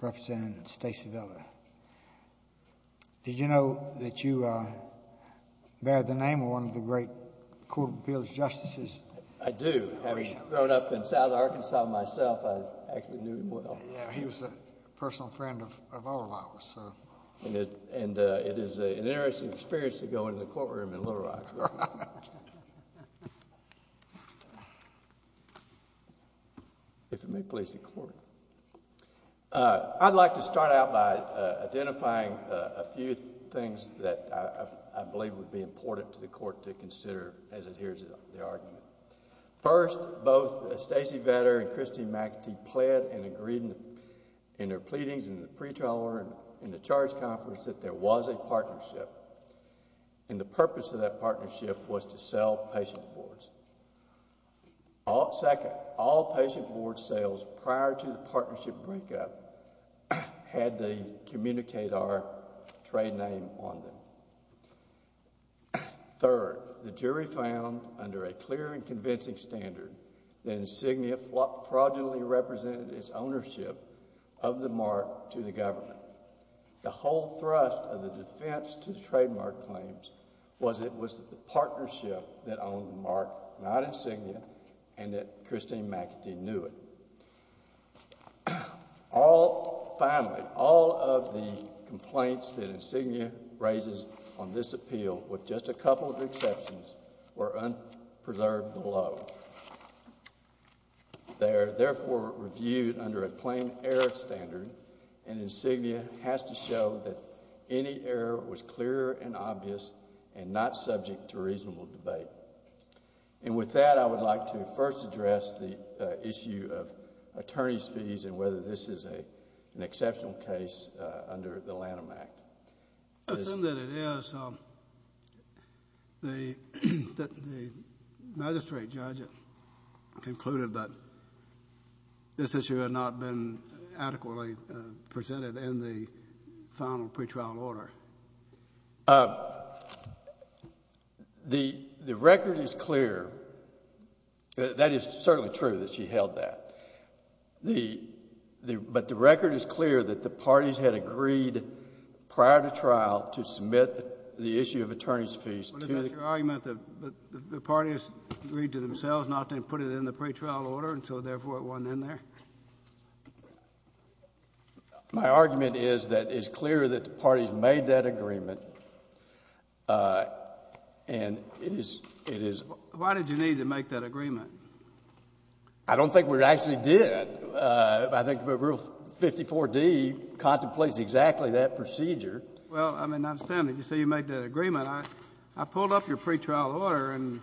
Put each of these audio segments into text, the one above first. Representative Stacey Vetter. Did you know that you bear the name of one of the great Court of Appeals Justices? I do. Having grown up in South Arkansas myself, I actually knew him well. Yeah, he was a personal friend of all of ours. And it is an interesting experience to go into the courtroom in Little Rock. I'd like to start out by identifying a few things that I believe would be important to the Court to consider as it hears the argument. First, both Stacey Vetter and Christine McAtee pled and agreed in their pleadings in the pretrial conference that there was a partnership, and the purpose of that partnership was to sell patient boards. Second, all patient board sales prior to the partnership breakup had the Communicator trade name on them. Third, the jury found under a clear and convincing standard that Insignia fraudulently represented its ownership of the mark to the government. The whole thrust of the defense to the trademark claims was that it was the partnership that owned the mark, not Insignia, and that Christine McAtee knew it. Finally, all of the complaints that Insignia raises on this appeal, with just a couple of exceptions, were unpreserved below. They are therefore reviewed under a plain error standard, and Insignia has to show that any error was clear and obvious and not subject to reasonable debate. And with that, I would like to first address the issue of attorney's fees and whether this is an exceptional case under the Lanham Act. I assume that it is. The magistrate judge concluded that this issue had not been adequately presented in the final pretrial order. The record is clear. That is certainly true that she held that. But the record is clear that the parties had agreed prior to trial to submit the issue of attorney's fees to... But is it your argument that the parties agreed to themselves not to put it in the pretrial order, and so therefore it wasn't in there? My argument is that it's clear that the parties made that agreement, and it is... Why did you need to make that agreement? I don't think we actually did. I think that Rule 54D contemplates exactly that procedure. Well, I mean, I understand that you say you made that agreement. I pulled up your pretrial order, and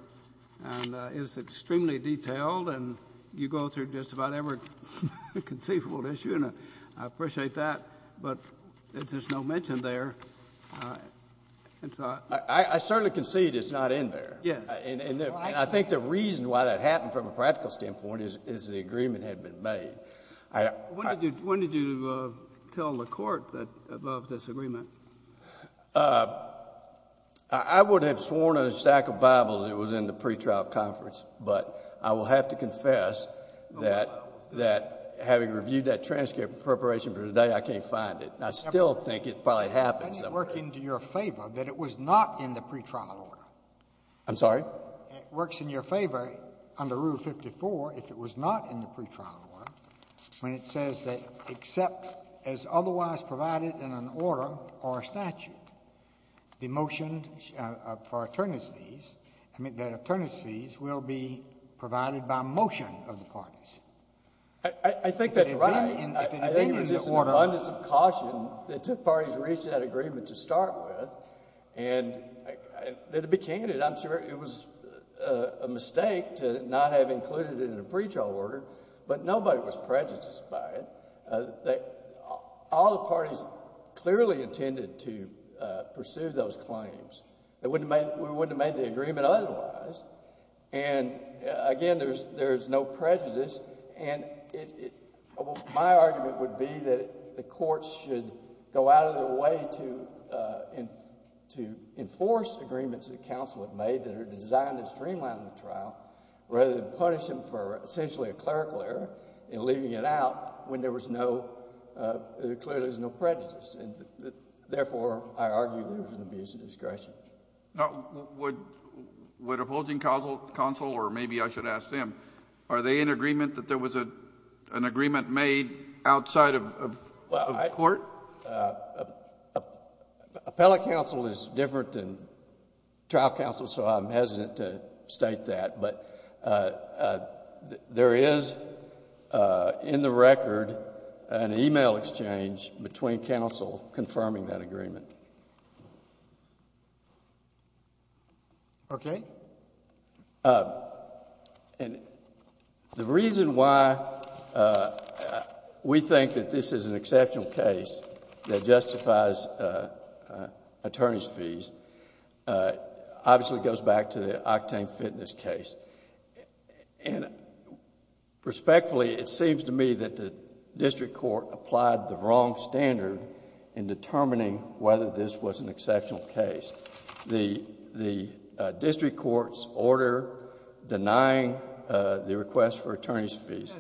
it's extremely detailed, and you go through just about every conceivable issue, and I appreciate that. But there's just no mention there. I certainly concede it's not in there. Yes. And I think the reason why that happened from a practical standpoint is the agreement had been made. When did you tell the court above this agreement? I would have sworn on a stack of Bibles it was in the pretrial conference, but I will have to confess that having reviewed that transcript in preparation for today, I can't find it. I still think it probably happened somewhere. Doesn't it work into your favor that it was not in the pretrial order? I'm sorry? It works in your favor under Rule 54 if it was not in the pretrial order when it says that except as otherwise provided in an order or a statute, the motion for attorneys' fees will be provided by motion of the parties. I think that's right. I think it was just an abundance of caution that two parties reached that agreement to start with, and to be candid, I'm sure it was a mistake to not have included it in a statute. All the parties clearly intended to pursue those claims. We wouldn't have made the agreement otherwise. Again, there's no prejudice. My argument would be that the courts should go out of their way to enforce agreements that counsel have made that are designed to streamline the trial rather than punish them for essentially a clerical error in leaving it out when there clearly is no prejudice. Therefore, I argue that it was an abuse of discretion. Would a holding counsel, or maybe I should ask them, are they in agreement that there was an agreement made outside of court? Appellate counsel is different than trial counsel, so I'm hesitant to state that. There is, in the record, an email exchange between counsel confirming that agreement. Okay. The reason why we think that this is an exceptional case that justifies attorneys' fees obviously goes back to the Octane Fitness case. Respectfully, it seems to me that the district court applied the wrong standard in determining whether this was an exceptional case. The district court's order denying the request for attorneys' fees...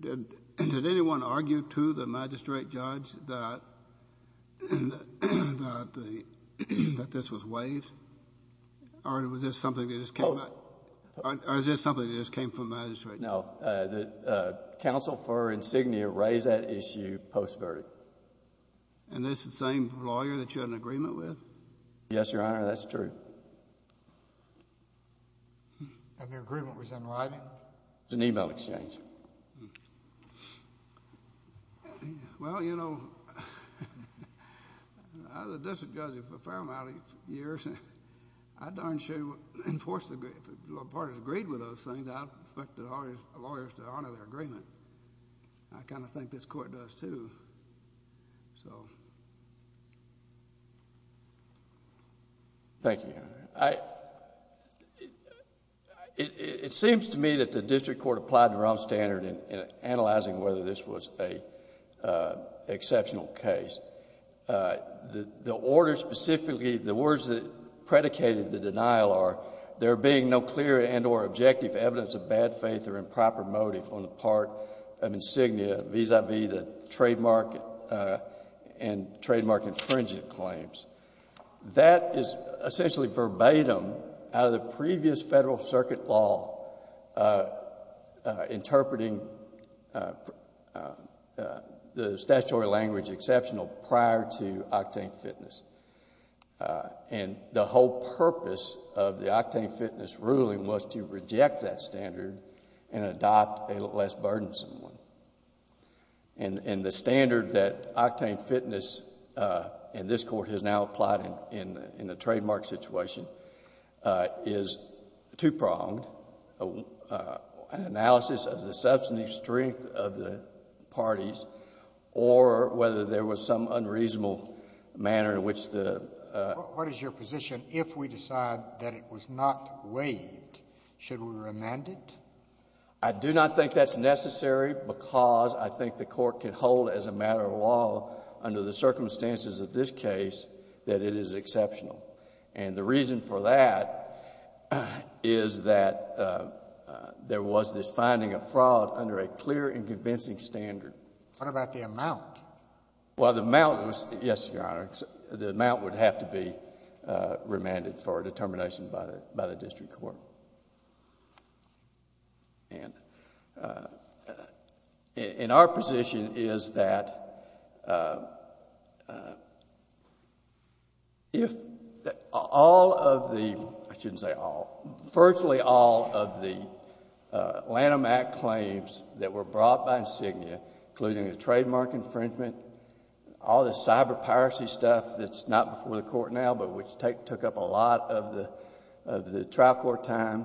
Did anyone argue to the magistrate judge that this was waived? Or was this something that just came from the magistrate judge? No. The counsel for insignia raised that issue post-verdict. And that's the same lawyer that you had an agreement with? Yes, Your Honor. That's true. And their agreement was in writing? No. It was an email exchange. Well, you know, I was a district judge for a fair amount of years. I darn sure would enforce the... if the parties agreed with those things, I'd expect all these lawyers to honor their agreement. I kind of think this court does too. So... Thank you, Your Honor. It seems to me that the district court applied the wrong standard in analyzing whether this was an exceptional case. The order specifically, the words that predicated the denial are, there being no clear and or objective evidence of bad faith or improper motive on the part of insignia vis-à-vis the trademark and trademark infringement claims. That is essentially verbatim out of the previous federal circuit law interpreting the statutory language exceptional prior to octane fitness. And the whole purpose of the octane fitness ruling was to reject that standard and adopt a less burdensome one. And the standard that octane fitness in this court has now applied in the trademark situation is two-pronged, an analysis of the substantive strength of the parties or whether there was some unreasonable manner in which the... What is your position if we decide that it was not waived? Should we remand it? I do not think that's necessary because I think the court can hold as a matter of law under the circumstances of this case that it is exceptional. And the reason for that is that there was this finding of fraud under a clear and convincing standard. What about the amount? Well, the amount was... Yes, Your Honor. The amount would have to be remanded for a determination by the district court. And our position is that if all of the... I shouldn't say all. Virtually all of the Lanham Act claims that were brought by Insignia including the trademark infringement, all the cyber piracy stuff that's not before the court now but which took up a lot of the trial court time,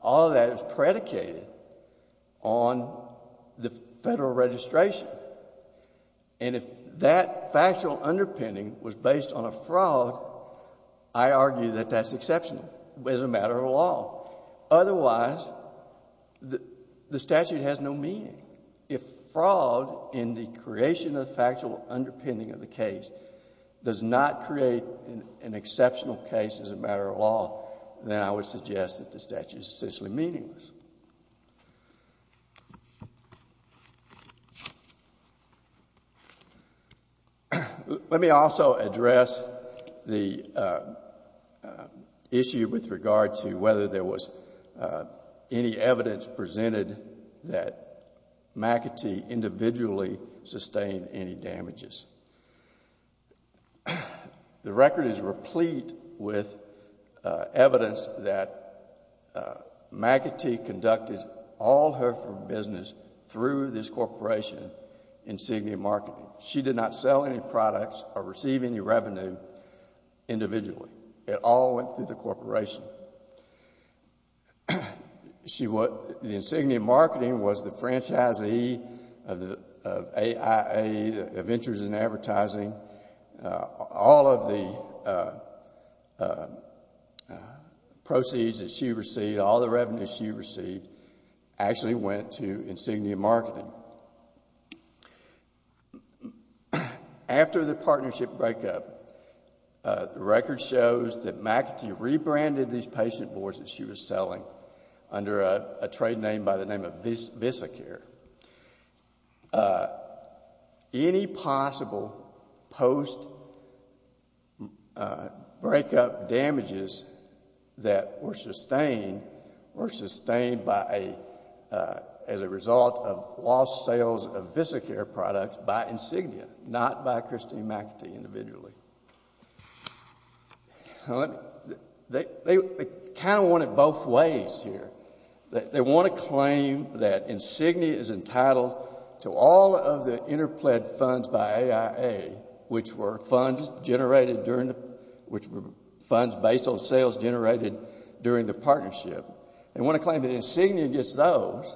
all of that is predicated on the federal registration. And if that factual underpinning was based on a fraud, otherwise the statute has no meaning. If fraud in the creation of factual underpinning of the case does not create an exceptional case as a matter of law, then I would suggest that the statute is essentially meaningless. Let me also address the issue with regard to whether there was any evidence presented that McAtee individually sustained any damages. The record is replete with evidence that McAtee claimed to have sustained and conducted all her business through this corporation, Insignia Marketing. She did not sell any products or receive any revenue individually. It all went through the corporation. The Insignia Marketing was the franchisee of AIA, Ventures in Advertising, all of the proceeds that she received, all the revenues she received actually went to Insignia Marketing. After the partnership breakup, the record shows that McAtee rebranded these patient boards that she was selling under a trade name by the name of Visacare. Any possible post-breakup damages that were sustained were sustained as a result of lost sales of Visacare products by Insignia, not by Christine McAtee individually. They kind of want it both ways here. They want to claim that Insignia is entitled to all of the interpled funds by AIA, which were funds based on sales generated during the partnership. They want to claim that Insignia gets those,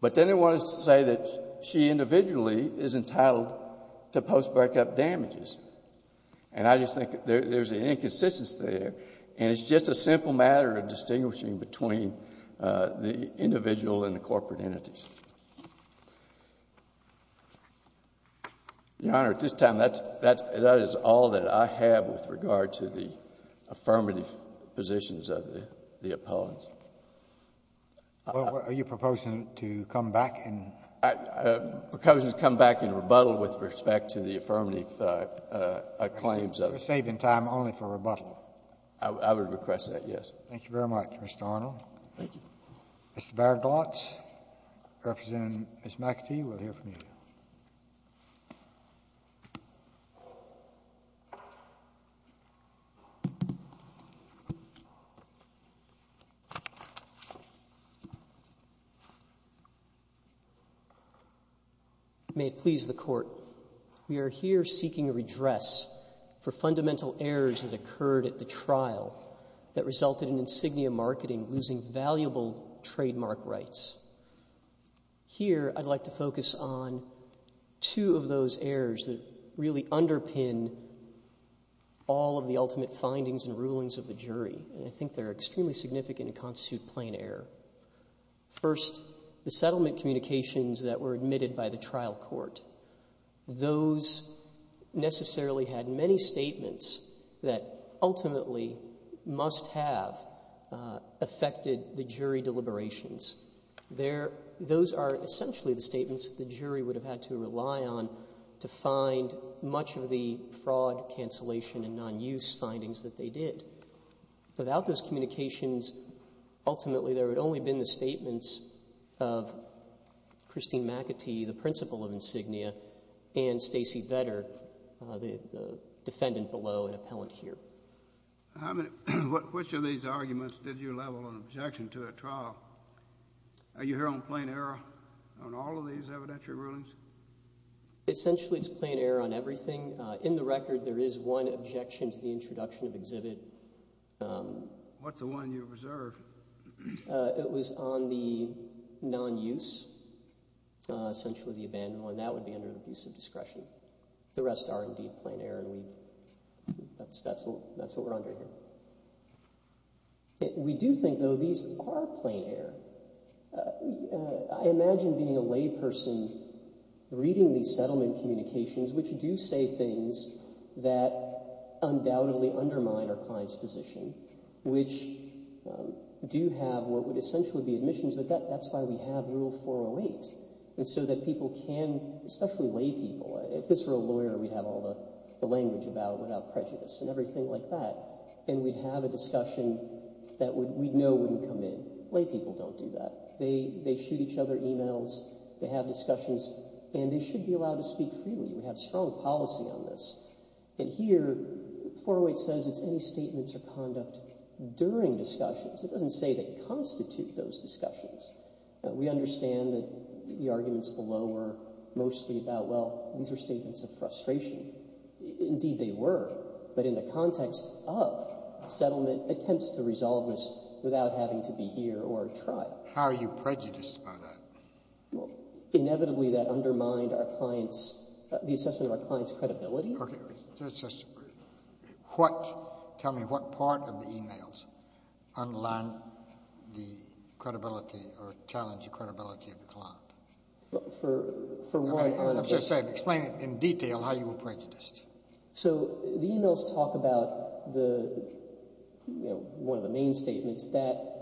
but then they want to say that she individually is entitled to post-breakup damages. And I just think there's an inconsistency there, and it's just a simple matter of distinguishing between the individual and the corporate entities. Your Honor, at this time, that is all that I have with regard to the affirmative positions of the opponents. Well, are you proposing to come back and— Proposing to come back and rebuttal with respect to the affirmative claims of— I would request that, yes. Thank you very much, Mr. Arnold. Thank you. Mr. Baraglotz, representing Ms. McAtee, will hear from you. May it please the Court. We are here seeking a redress for fundamental errors that occurred at the trial that resulted in Insignia Marketing losing valuable trademark rights. Here, I'd like to focus on two of those errors that really underpin all of the ultimate findings and rulings of the jury, and I think they're extremely significant and constitute plain error. First, the settlement communications that were admitted by the trial court. Those necessarily had many statements that ultimately must have affected the jury deliberations. Those are essentially the statements that the jury would have had to rely on to find much of the fraud, cancellation, and non-use findings that they did. Without those communications, ultimately, there would only have been the statements of Christine McAtee, the principal of Insignia, and Stacey Vetter, the defendant below and appellant here. Which of these arguments did you level an objection to at trial? Are you here on plain error on all of these evidentiary rulings? Essentially, it's plain error on everything. In the record, there is one objection to the introduction of exhibit. What's the one you reserved? It was on the non-use, essentially the abandoned one. That would be under an abuse of discretion. The rest are indeed plain error, and that's what we're under here. We do think, though, these are plain error. I imagine being a layperson, reading these settlement communications, which do say things that undoubtedly undermine our client's position, which do have what would essentially be admissions, but that's why we have Rule 408, so that people can, especially laypeople, if this were a lawyer, we'd have all the language about without prejudice and everything like that, and we'd have a discussion that we'd know wouldn't come in. But laypeople don't do that. They shoot each other emails, they have discussions, and they should be allowed to speak freely. We have strong policy on this. And here, 408 says it's any statements or conduct during discussions. It doesn't say they constitute those discussions. We understand that the arguments below were mostly about, well, these are statements of frustration. Indeed, they were. But in the context of settlement, attempts to resolve this without having to be here or try. How are you prejudiced by that? Well, inevitably that undermined our client's—the assessment of our client's credibility. Okay. Just what—tell me what part of the emails underline the credibility or challenge the credibility of the client? For what— I'm just saying, explain in detail how you were prejudiced. So the emails talk about the—one of the main statements that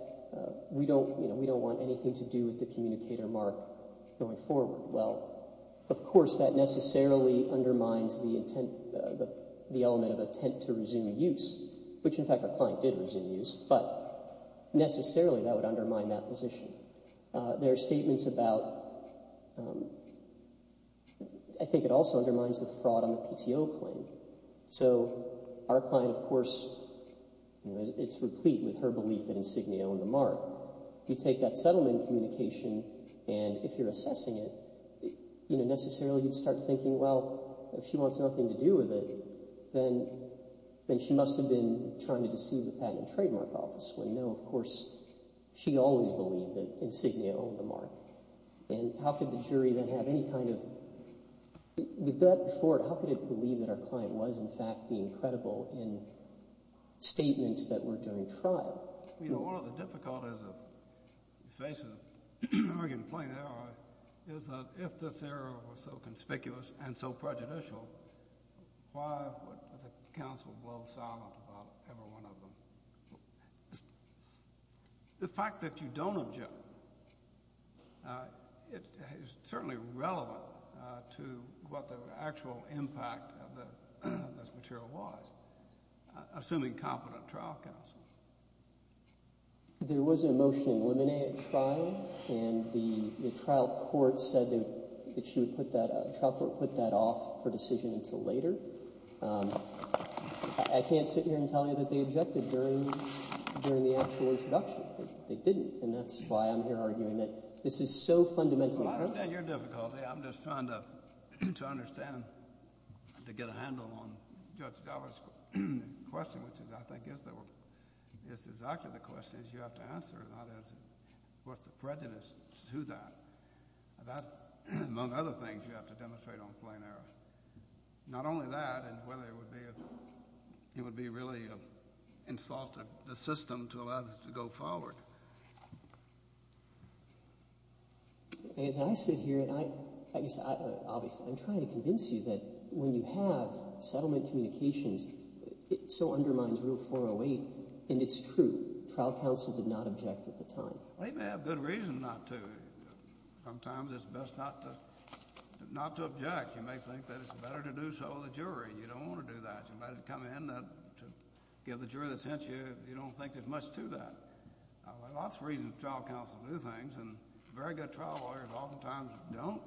we don't want anything to do with the communicator mark going forward. Well, of course that necessarily undermines the intent—the element of intent to resume use, which in fact our client did resume use, but necessarily that would undermine that position. There are statements about—I think it also undermines the fraud on the PTO claim. So our client, of course, it's replete with her belief that Insignia owned the mark. If you take that settlement communication and if you're assessing it, necessarily you'd start thinking, well, if she wants nothing to do with it, then she must have been trying to deceive the Patent and Trademark Office. When, no, of course she always believed that Insignia owned the mark. And how could the jury then have any kind of—with that before it, how could it believe that our client was, in fact, being credible in statements that were during trial? You know, one of the difficulties of facing an arrogant plain error is that if this error was so conspicuous and so prejudicial, why would the counsel blow the silent about every one of them? The fact that you don't object is certainly relevant to what the actual impact of this material was, assuming competent trial counsel. There was a motion to eliminate at trial, and the trial court said that she would put that—the trial court put that off her decision until later. I can't sit here and tell you that they objected during the actual introduction. They didn't, and that's why I'm here arguing that this is so fundamentally— I understand your difficulty. I'm just trying to understand, to get a handle on Judge Dover's question, which I think is exactly the question you have to answer, and I'll answer what's the prejudice to that. That, among other things, you have to demonstrate on plain error. Not only that, it would be really insulting the system to allow this to go forward. As I sit here and I—obviously, I'm trying to convince you that when you have settlement communications, it so undermines Rule 408, and it's true. Trial counsel did not object at the time. They may have good reason not to. Sometimes it's best not to object. You may think that it's better to do so with a jury. You don't want to do that. You might have come in to give the jury the sense you don't think there's much to that. There are lots of reasons trial counsel do things, and very good trial lawyers oftentimes don't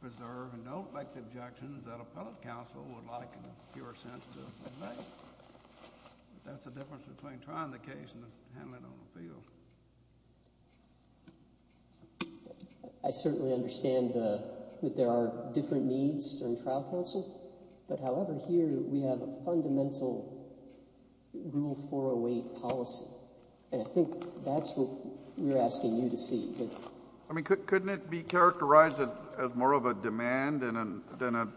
preserve and don't make the objections that appellate counsel would like in a pure sense to make. That's the difference between trying the case and handling it on the field. I certainly understand that there are different needs in trial counsel. But, however, here we have a fundamental Rule 408 policy, and I think that's what we're asking you to see. Thank you. I mean, couldn't it be characterized as more of a demand than an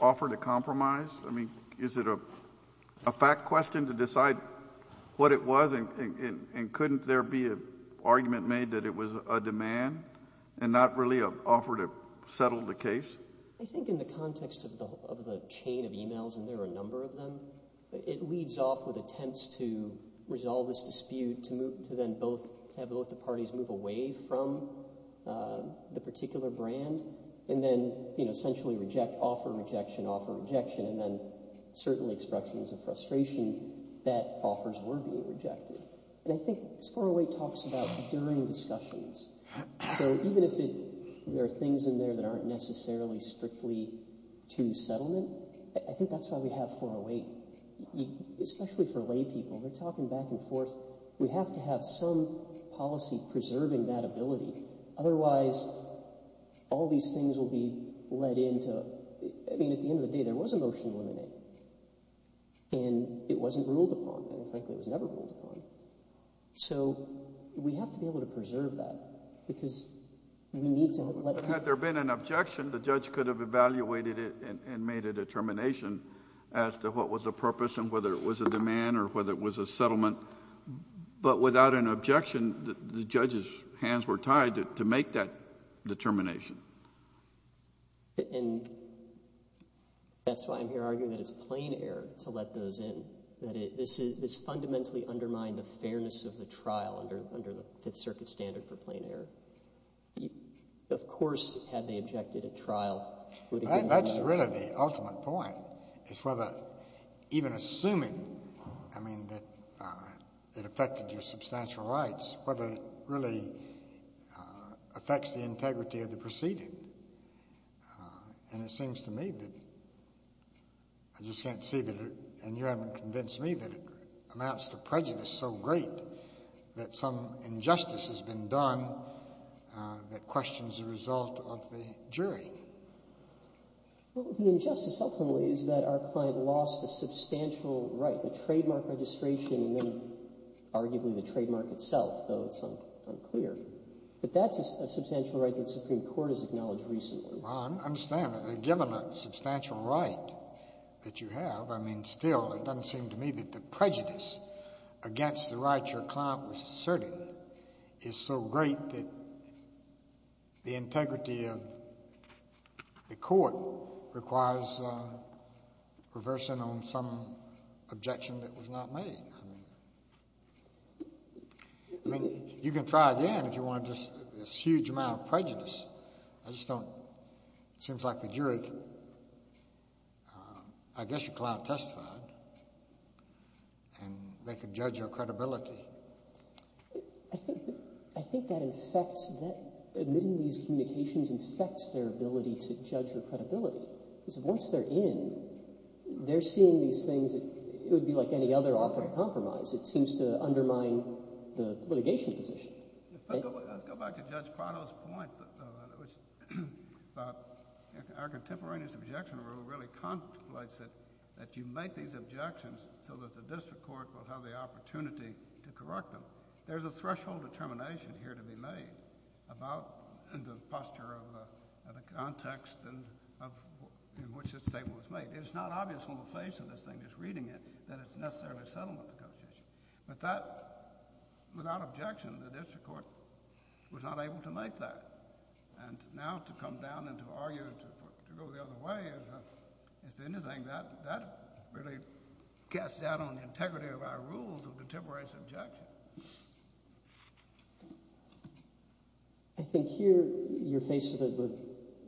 offer to compromise? I mean, is it a fact question to decide what it was, and couldn't there be an argument made that it was a demand and not really an offer to settle the case? I think in the context of the chain of emails, and there are a number of them, it leads off with attempts to resolve this dispute to then have both the parties move away from the particular brand and then essentially offer rejection, offer rejection, and then certain expressions of frustration that offers were being rejected. And I think 408 talks about during discussions. So even if there are things in there that aren't necessarily strictly to settlement, I think that's why we have 408, especially for laypeople. They're talking back and forth. We have to have some policy preserving that ability. Otherwise, all these things will be led into... I mean, at the end of the day, there was a motion in it, and it wasn't ruled upon. In fact, it was never ruled upon. So we have to be able to preserve that because we need to... Had there been an objection, the judge could have evaluated it and made a determination as to what was the purpose and whether it was a demand or whether it was a settlement. But without an objection, the judge's hands were tied to make that determination. And that's why I'm here arguing that it's plain error to let those in. This fundamentally undermined the fairness of the trial under the Fifth Circuit standard for plain error. Of course, had they objected at trial... that affected your substantial rights, whether it really affects the integrity of the proceeding. And it seems to me that... I just can't see that... And you haven't convinced me that it amounts to prejudice so great that some injustice has been done that questions the result of the jury. Well, the injustice ultimately is that our client lost a substantial right, the trademark registration and then arguably the trademark itself, though it's unclear. But that's a substantial right that the Supreme Court has acknowledged recently. I understand. Given a substantial right that you have, I mean, still, it doesn't seem to me that the prejudice against the right your client was asserting is so great that the integrity of the court requires reversing on some objection that was not made. I mean, you can try again if you want just this huge amount of prejudice. I just don't... it seems like the jury... I guess your client testified and they could judge your credibility. I think that affects... admitting these communications affects their ability to judge your credibility. Because once they're in, they're seeing these things that would be like any other offer of compromise. It seems to undermine the litigation position. Let's go back to Judge Prado's point about our contemporaneous objection rule really contemplates that you make these objections so that the district court will have the opportunity to correct them. There's a threshold determination here to be made about the posture of the context in which this statement was made. It's not obvious from the face of this thing, just reading it, that it's necessarily settlement of the context. But that, without objection, the district court was not able to make that. And now to come down and to argue and to go the other way as to anything, that really casts doubt on the integrity of our rules of contemporaneous objection. I think here you're faced with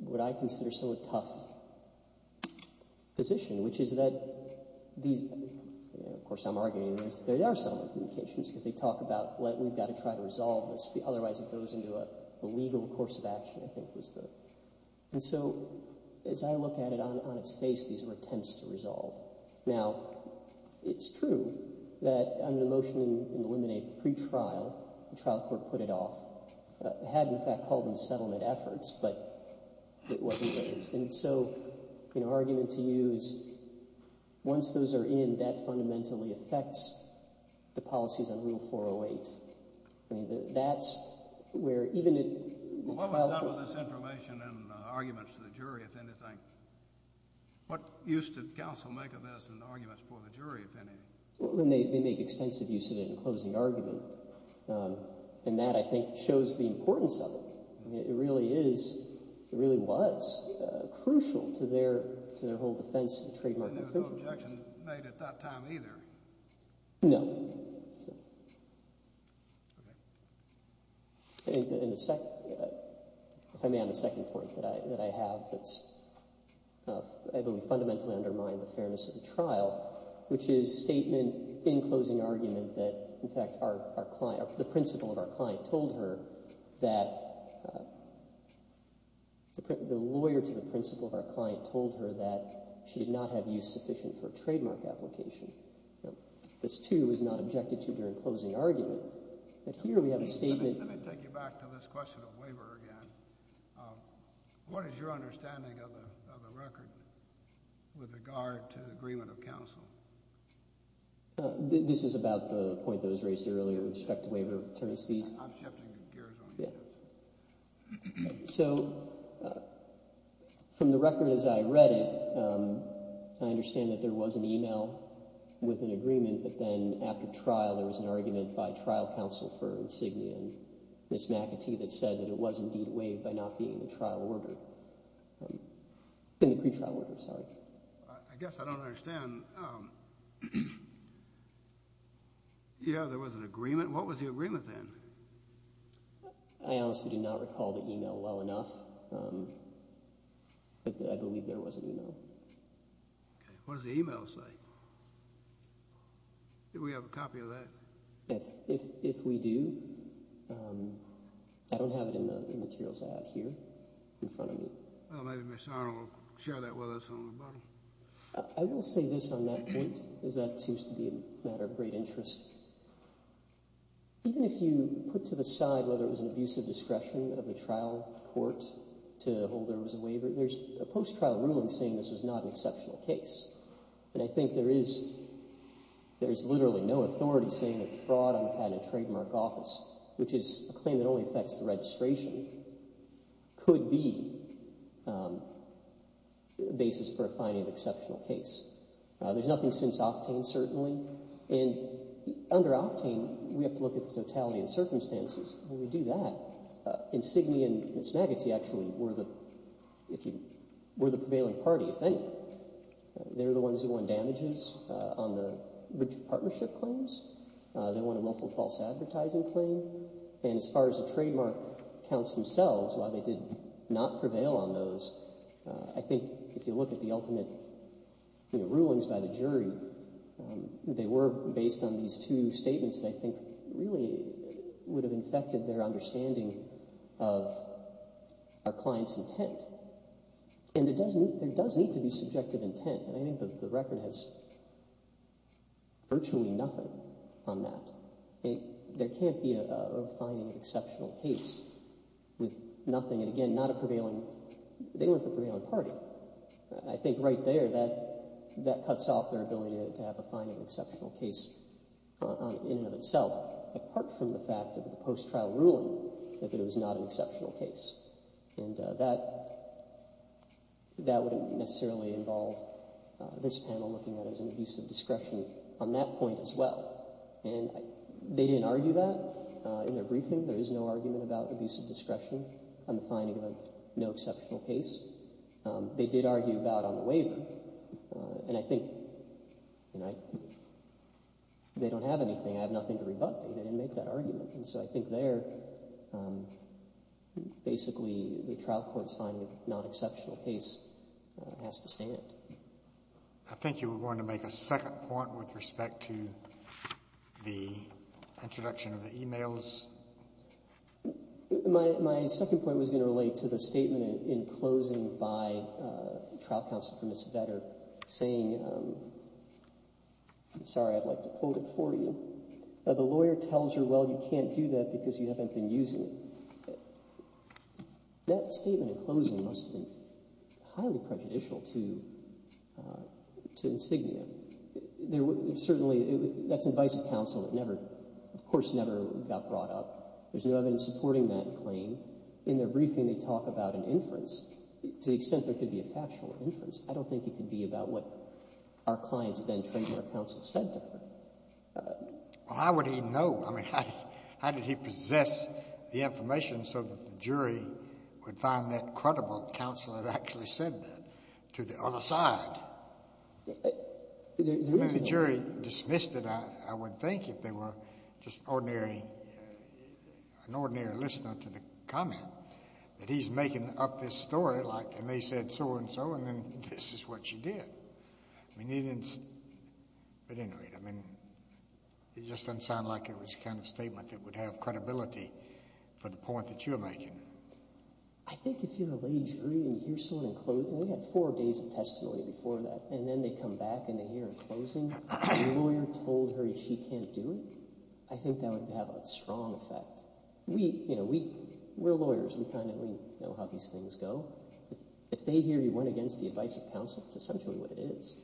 what I consider some of the tough position, which is that these... Of course, I'm arguing that there are settlement communications because they talk about we've got to try to resolve this. Otherwise, it goes into a legal course of action, I think is the... And so as I look at it on its face, these are attempts to resolve. Now, it's true that on the motion in the limine pre-trial, the trial court put it off. It had, in fact, called them settlement efforts, but it wasn't raised. And so my argument to you is once those are in, that fundamentally affects the policies on Rule 408. That's where even in... What was done with this information and arguments to the jury, if anything? What use did counsel make of this in arguments for the jury, if any? They make extensive use of it in closing argument. And that, I think, shows the importance of it. It really is... it really was crucial to their whole defense of the trademark... And there was no objection made at that time either? No. And the second... If I may, on the second point that I have that's, I believe, fundamentally undermined the fairness of the trial, which is statement in closing argument that, in fact, our client... The principal of our client told her that... The lawyer to the principal of our client told her that she did not have use sufficient for a trademark application. This, too, was not objected to during closing argument. But here we have a statement... Let me take you back to this question of waiver again. What is your understanding of the record with regard to agreement of counsel? This is about the point that was raised earlier with respect to waiver of attorneys' fees. I'm shifting gears on that. So, from the record as I read it, I understand that there was an email with an agreement, but then after trial there was an argument by trial counsel for Insignia and Ms. McAtee that said that it was indeed waived by not being in the trial order. In the pretrial order, sorry. I guess I don't understand. Yeah, there was an agreement. What was the agreement then? I honestly do not recall the email well enough, but I believe there was an email. What does the email say? Do we have a copy of that? If we do, I don't have it in the materials I have here in front of me. Well, maybe Ms. Arnold will share that with us on the bottom. I will say this on that point because that seems to be a matter of great interest. Even if you put to the side whether it was an abuse of discretion of the trial court to hold there was a waiver, there's a post-trial ruling saying this was not an exceptional case. And I think there is literally no authority saying that fraud on the part of a trademark office, which is a claim that only affects the registration, could be the basis for finding an exceptional case. There's nothing since Octane certainly. And under Octane, we have to look at the totality of the circumstances when we do that. Insignia and Ms. Magaty actually were the prevailing party, I think. They're the ones who won damages on the partnership claims. They won a multiple false advertising claim. And as far as the trademark counts themselves, while they did not prevail on those, I think if you look at the ultimate rulings by the jury, they were based on these two statements that I think really would have infected their understanding of our client's intent. And there does need to be subjective intent. I think the record has virtually nothing on that. There can't be a finding of an exceptional case with nothing, and again, not a prevailing – they weren't the prevailing party. I think right there, that cuts off their ability to have a finding of an exceptional case in and of itself, apart from the fact of the post-trial ruling that it was not an exceptional case. And that wouldn't necessarily involve this panel looking at it as an abuse of discretion on that point as well. And they didn't argue that in their briefing. There is no argument about abuse of discretion on the finding of no exceptional case. They did argue about it on the waiver. And I think – they don't have anything. I have nothing to rebut. They didn't make that argument. And so I think there, basically, the trial court's finding of non-exceptional case has to stand. I think you were going to make a second point with respect to the introduction of the emails. My second point was going to relate to the statement in closing by trial counsel for Ms. Vedder saying – sorry, I'd like to quote it for you. The lawyer tells her, well, you can't do that because you haven't been using it. That statement in closing must have been highly prejudicial to insignia. Certainly, that's advice of counsel that never – of course, never got brought up. There's no evidence supporting that claim. In their briefing, they talk about an inference to the extent there could be a factual inference. I don't think it could be about what our clients then trained our counsel said to her. Well, how would he know? I mean, how did he possess the information so that the jury would find that credible? Counsel had actually said that to the other side. If the jury dismissed it, I would think if they were just ordinary – an ordinary listener to the comment that he's making up this story, like, and they said so and so, and then this is what she did. I mean, he didn't – he didn't read it. I mean, it just doesn't sound like it was the kind of statement that would have credibility for the point that you're making. I think if you're a lay jury and you hear someone in closing – we had four days of testimony before that, and then they come back and they hear in closing the lawyer told her she can't do it, I think that would have a strong effect. We – you know, we're lawyers. We kind of know how these things go. If they hear you went against the advice of counsel, it's essentially what it is.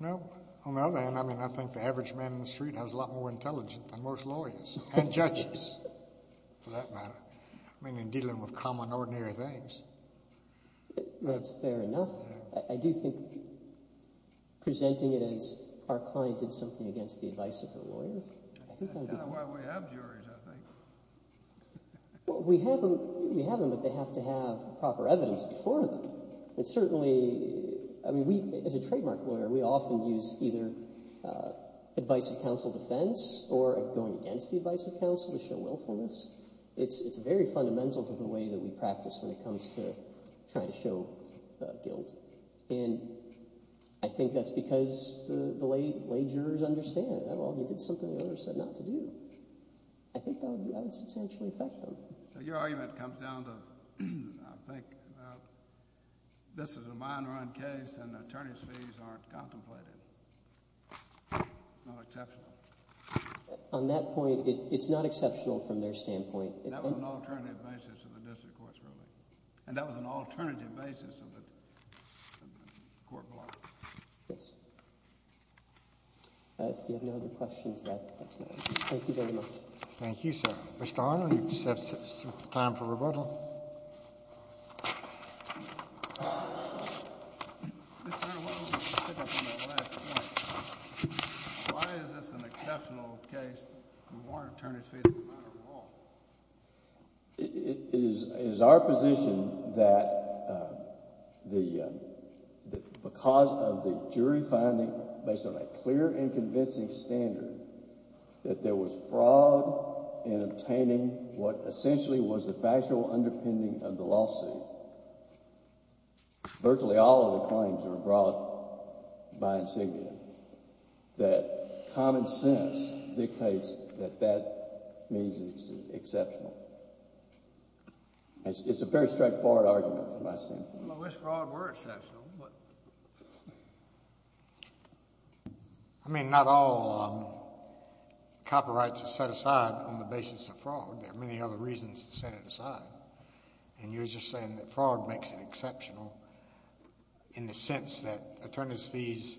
No. On the other hand, I mean, I think the average man in the street has a lot more intelligence than most lawyers and judges for that matter. I mean, in dealing with common, ordinary things. That's fair enough. I do think presenting it as our client did something against the advice of her lawyer, I think that would be – That's why we have juries, I think. Well, we have them, but they have to have proper evidence before them. And certainly, I mean, we – as a trademark lawyer, we often use either advice of counsel defense or going against the advice of counsel to show willfulness. It's very fundamental to the way that we practice when it comes to trying to show guilt. And I think that's because the lay jurors understand, oh, he did something the lawyer said not to do. I think that would substantially affect them. Your argument comes down to I think this is a mine run case and the attorney's fees aren't contemplated. It's not exceptional. On that point, it's not exceptional from their standpoint. That was an alternative basis of the district court's ruling. And that was an alternative basis of the court block. Yes. If you have no other questions, that's my answer. Thank you very much. Thank you, sir. Mr. Arnold, you have time for rebuttal. Mr. Arnold, what was the pickup on that last point? Why is this an exceptional case? The warrant attorney's fees don't matter at all. It is our position that because of the jury finding, based on a clear and convincing standard, that there was fraud in obtaining what essentially was the factual underpinning of the lawsuit. Virtually all of the claims are brought by insignia. That common sense dictates that that means it's exceptional. It's a very straightforward argument from my standpoint. I mean, not all copyrights are set aside on the basis of fraud. There are many other reasons to set it aside. And you're just saying that fraud makes it exceptional in the sense that attorney's fees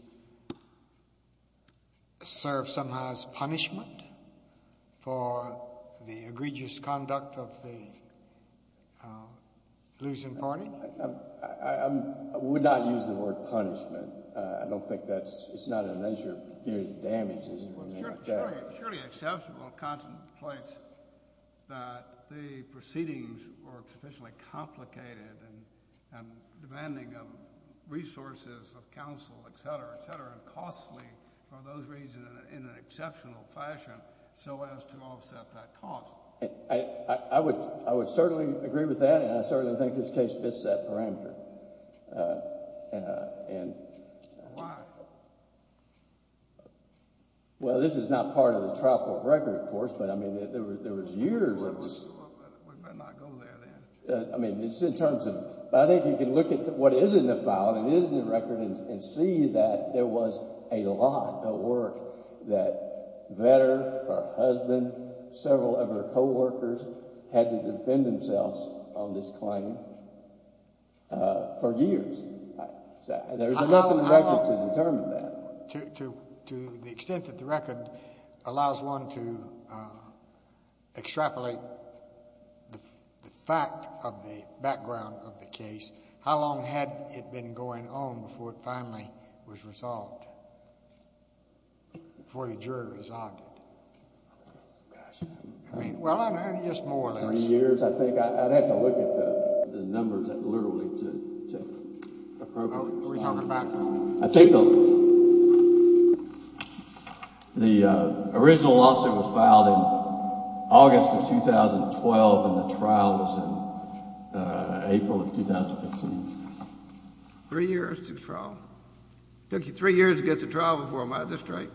serve somehow as punishment for the egregious conduct of the losing party? I would not use the word punishment. I don't think that's—it's not a measure of damage. Surely exceptional contemplates that the proceedings were sufficiently complicated and demanding of resources of counsel, etc., etc., and costly for those reasons in an exceptional fashion so as to offset that cost. I would certainly agree with that, and I certainly think this case fits that parameter. Why? Well, this is not part of the trial court record, of course, but, I mean, there was years of this— We better not go there, then. I mean, it's in terms of—I think you can look at what is in the file and is in the record and see that there was a lot of work that Vedder, her husband, several of her co-workers had to defend themselves on this claim for years. There's enough in the record to determine that. To the extent that the record allows one to extrapolate the fact of the background of the case, how long had it been going on before it finally was resolved, before the jury resolved it? I mean, well, I don't know. Just more or less. Three years, I think. I'd have to look at the numbers literally to approve it. Who are you talking about? I think the original lawsuit was filed in August of 2012, and the trial was in April of 2015. Three years to trial. It took you three years to get to trial before my district.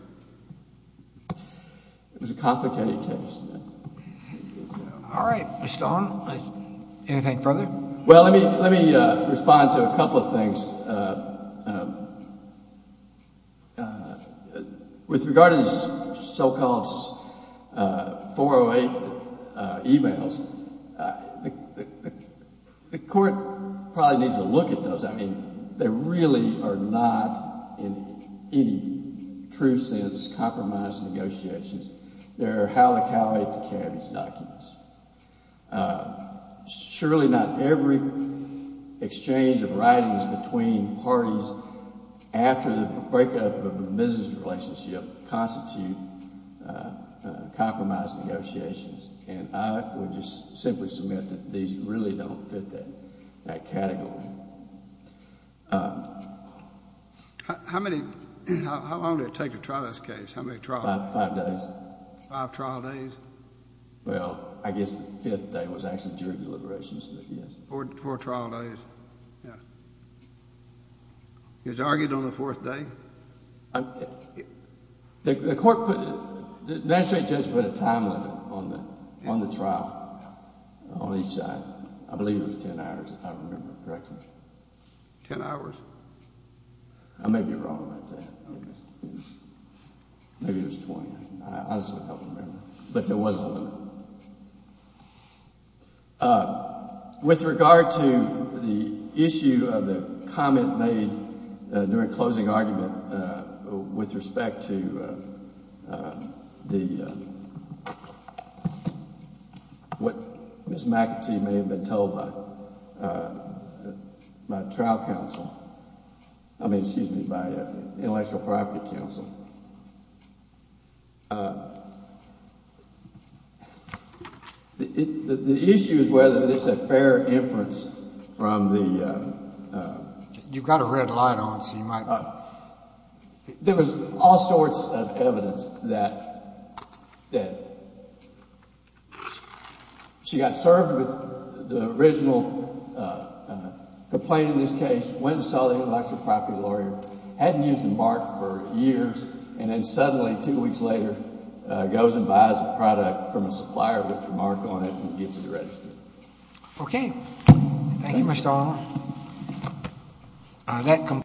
It was a complicated case. All right, Mr. Stone, anything further? Well, let me respond to a couple of things. With regard to these so-called 408 emails, the court probably needs to look at those. I mean, they really are not, in any true sense, compromise negotiations. They are how to calibrate the cabbage documents. Surely not every exchange of writings between parties after the breakup of a business relationship constitutes compromise negotiations. And I would just simply submit that these really don't fit that category. How long did it take to trial this case? How many trials? Five days. Five trial days? Well, I guess the fifth day was actually jury deliberations, but yes. Four trial days, yes. It was argued on the fourth day? The court put, the magistrate judge put a time limit on the trial on each side. I believe it was ten hours, if I remember correctly. Ten hours? I may be wrong about that. Maybe it was 20. I honestly don't remember. But there was a limit. With regard to the issue of the comment made during closing argument with respect to what Ms. McAtee may have been told by trial counsel, I mean, excuse me, by intellectual property counsel, the issue is whether this is a fair inference from the... You've got a red light on, so you might not... There was all sorts of evidence that she got served with the original complaint in this case, went and saw the intellectual property lawyer, hadn't used the mark for years, and then suddenly two weeks later goes and buys a product from a supplier with the mark on it and gets it registered. Okay. Thank you, Mr. Allen.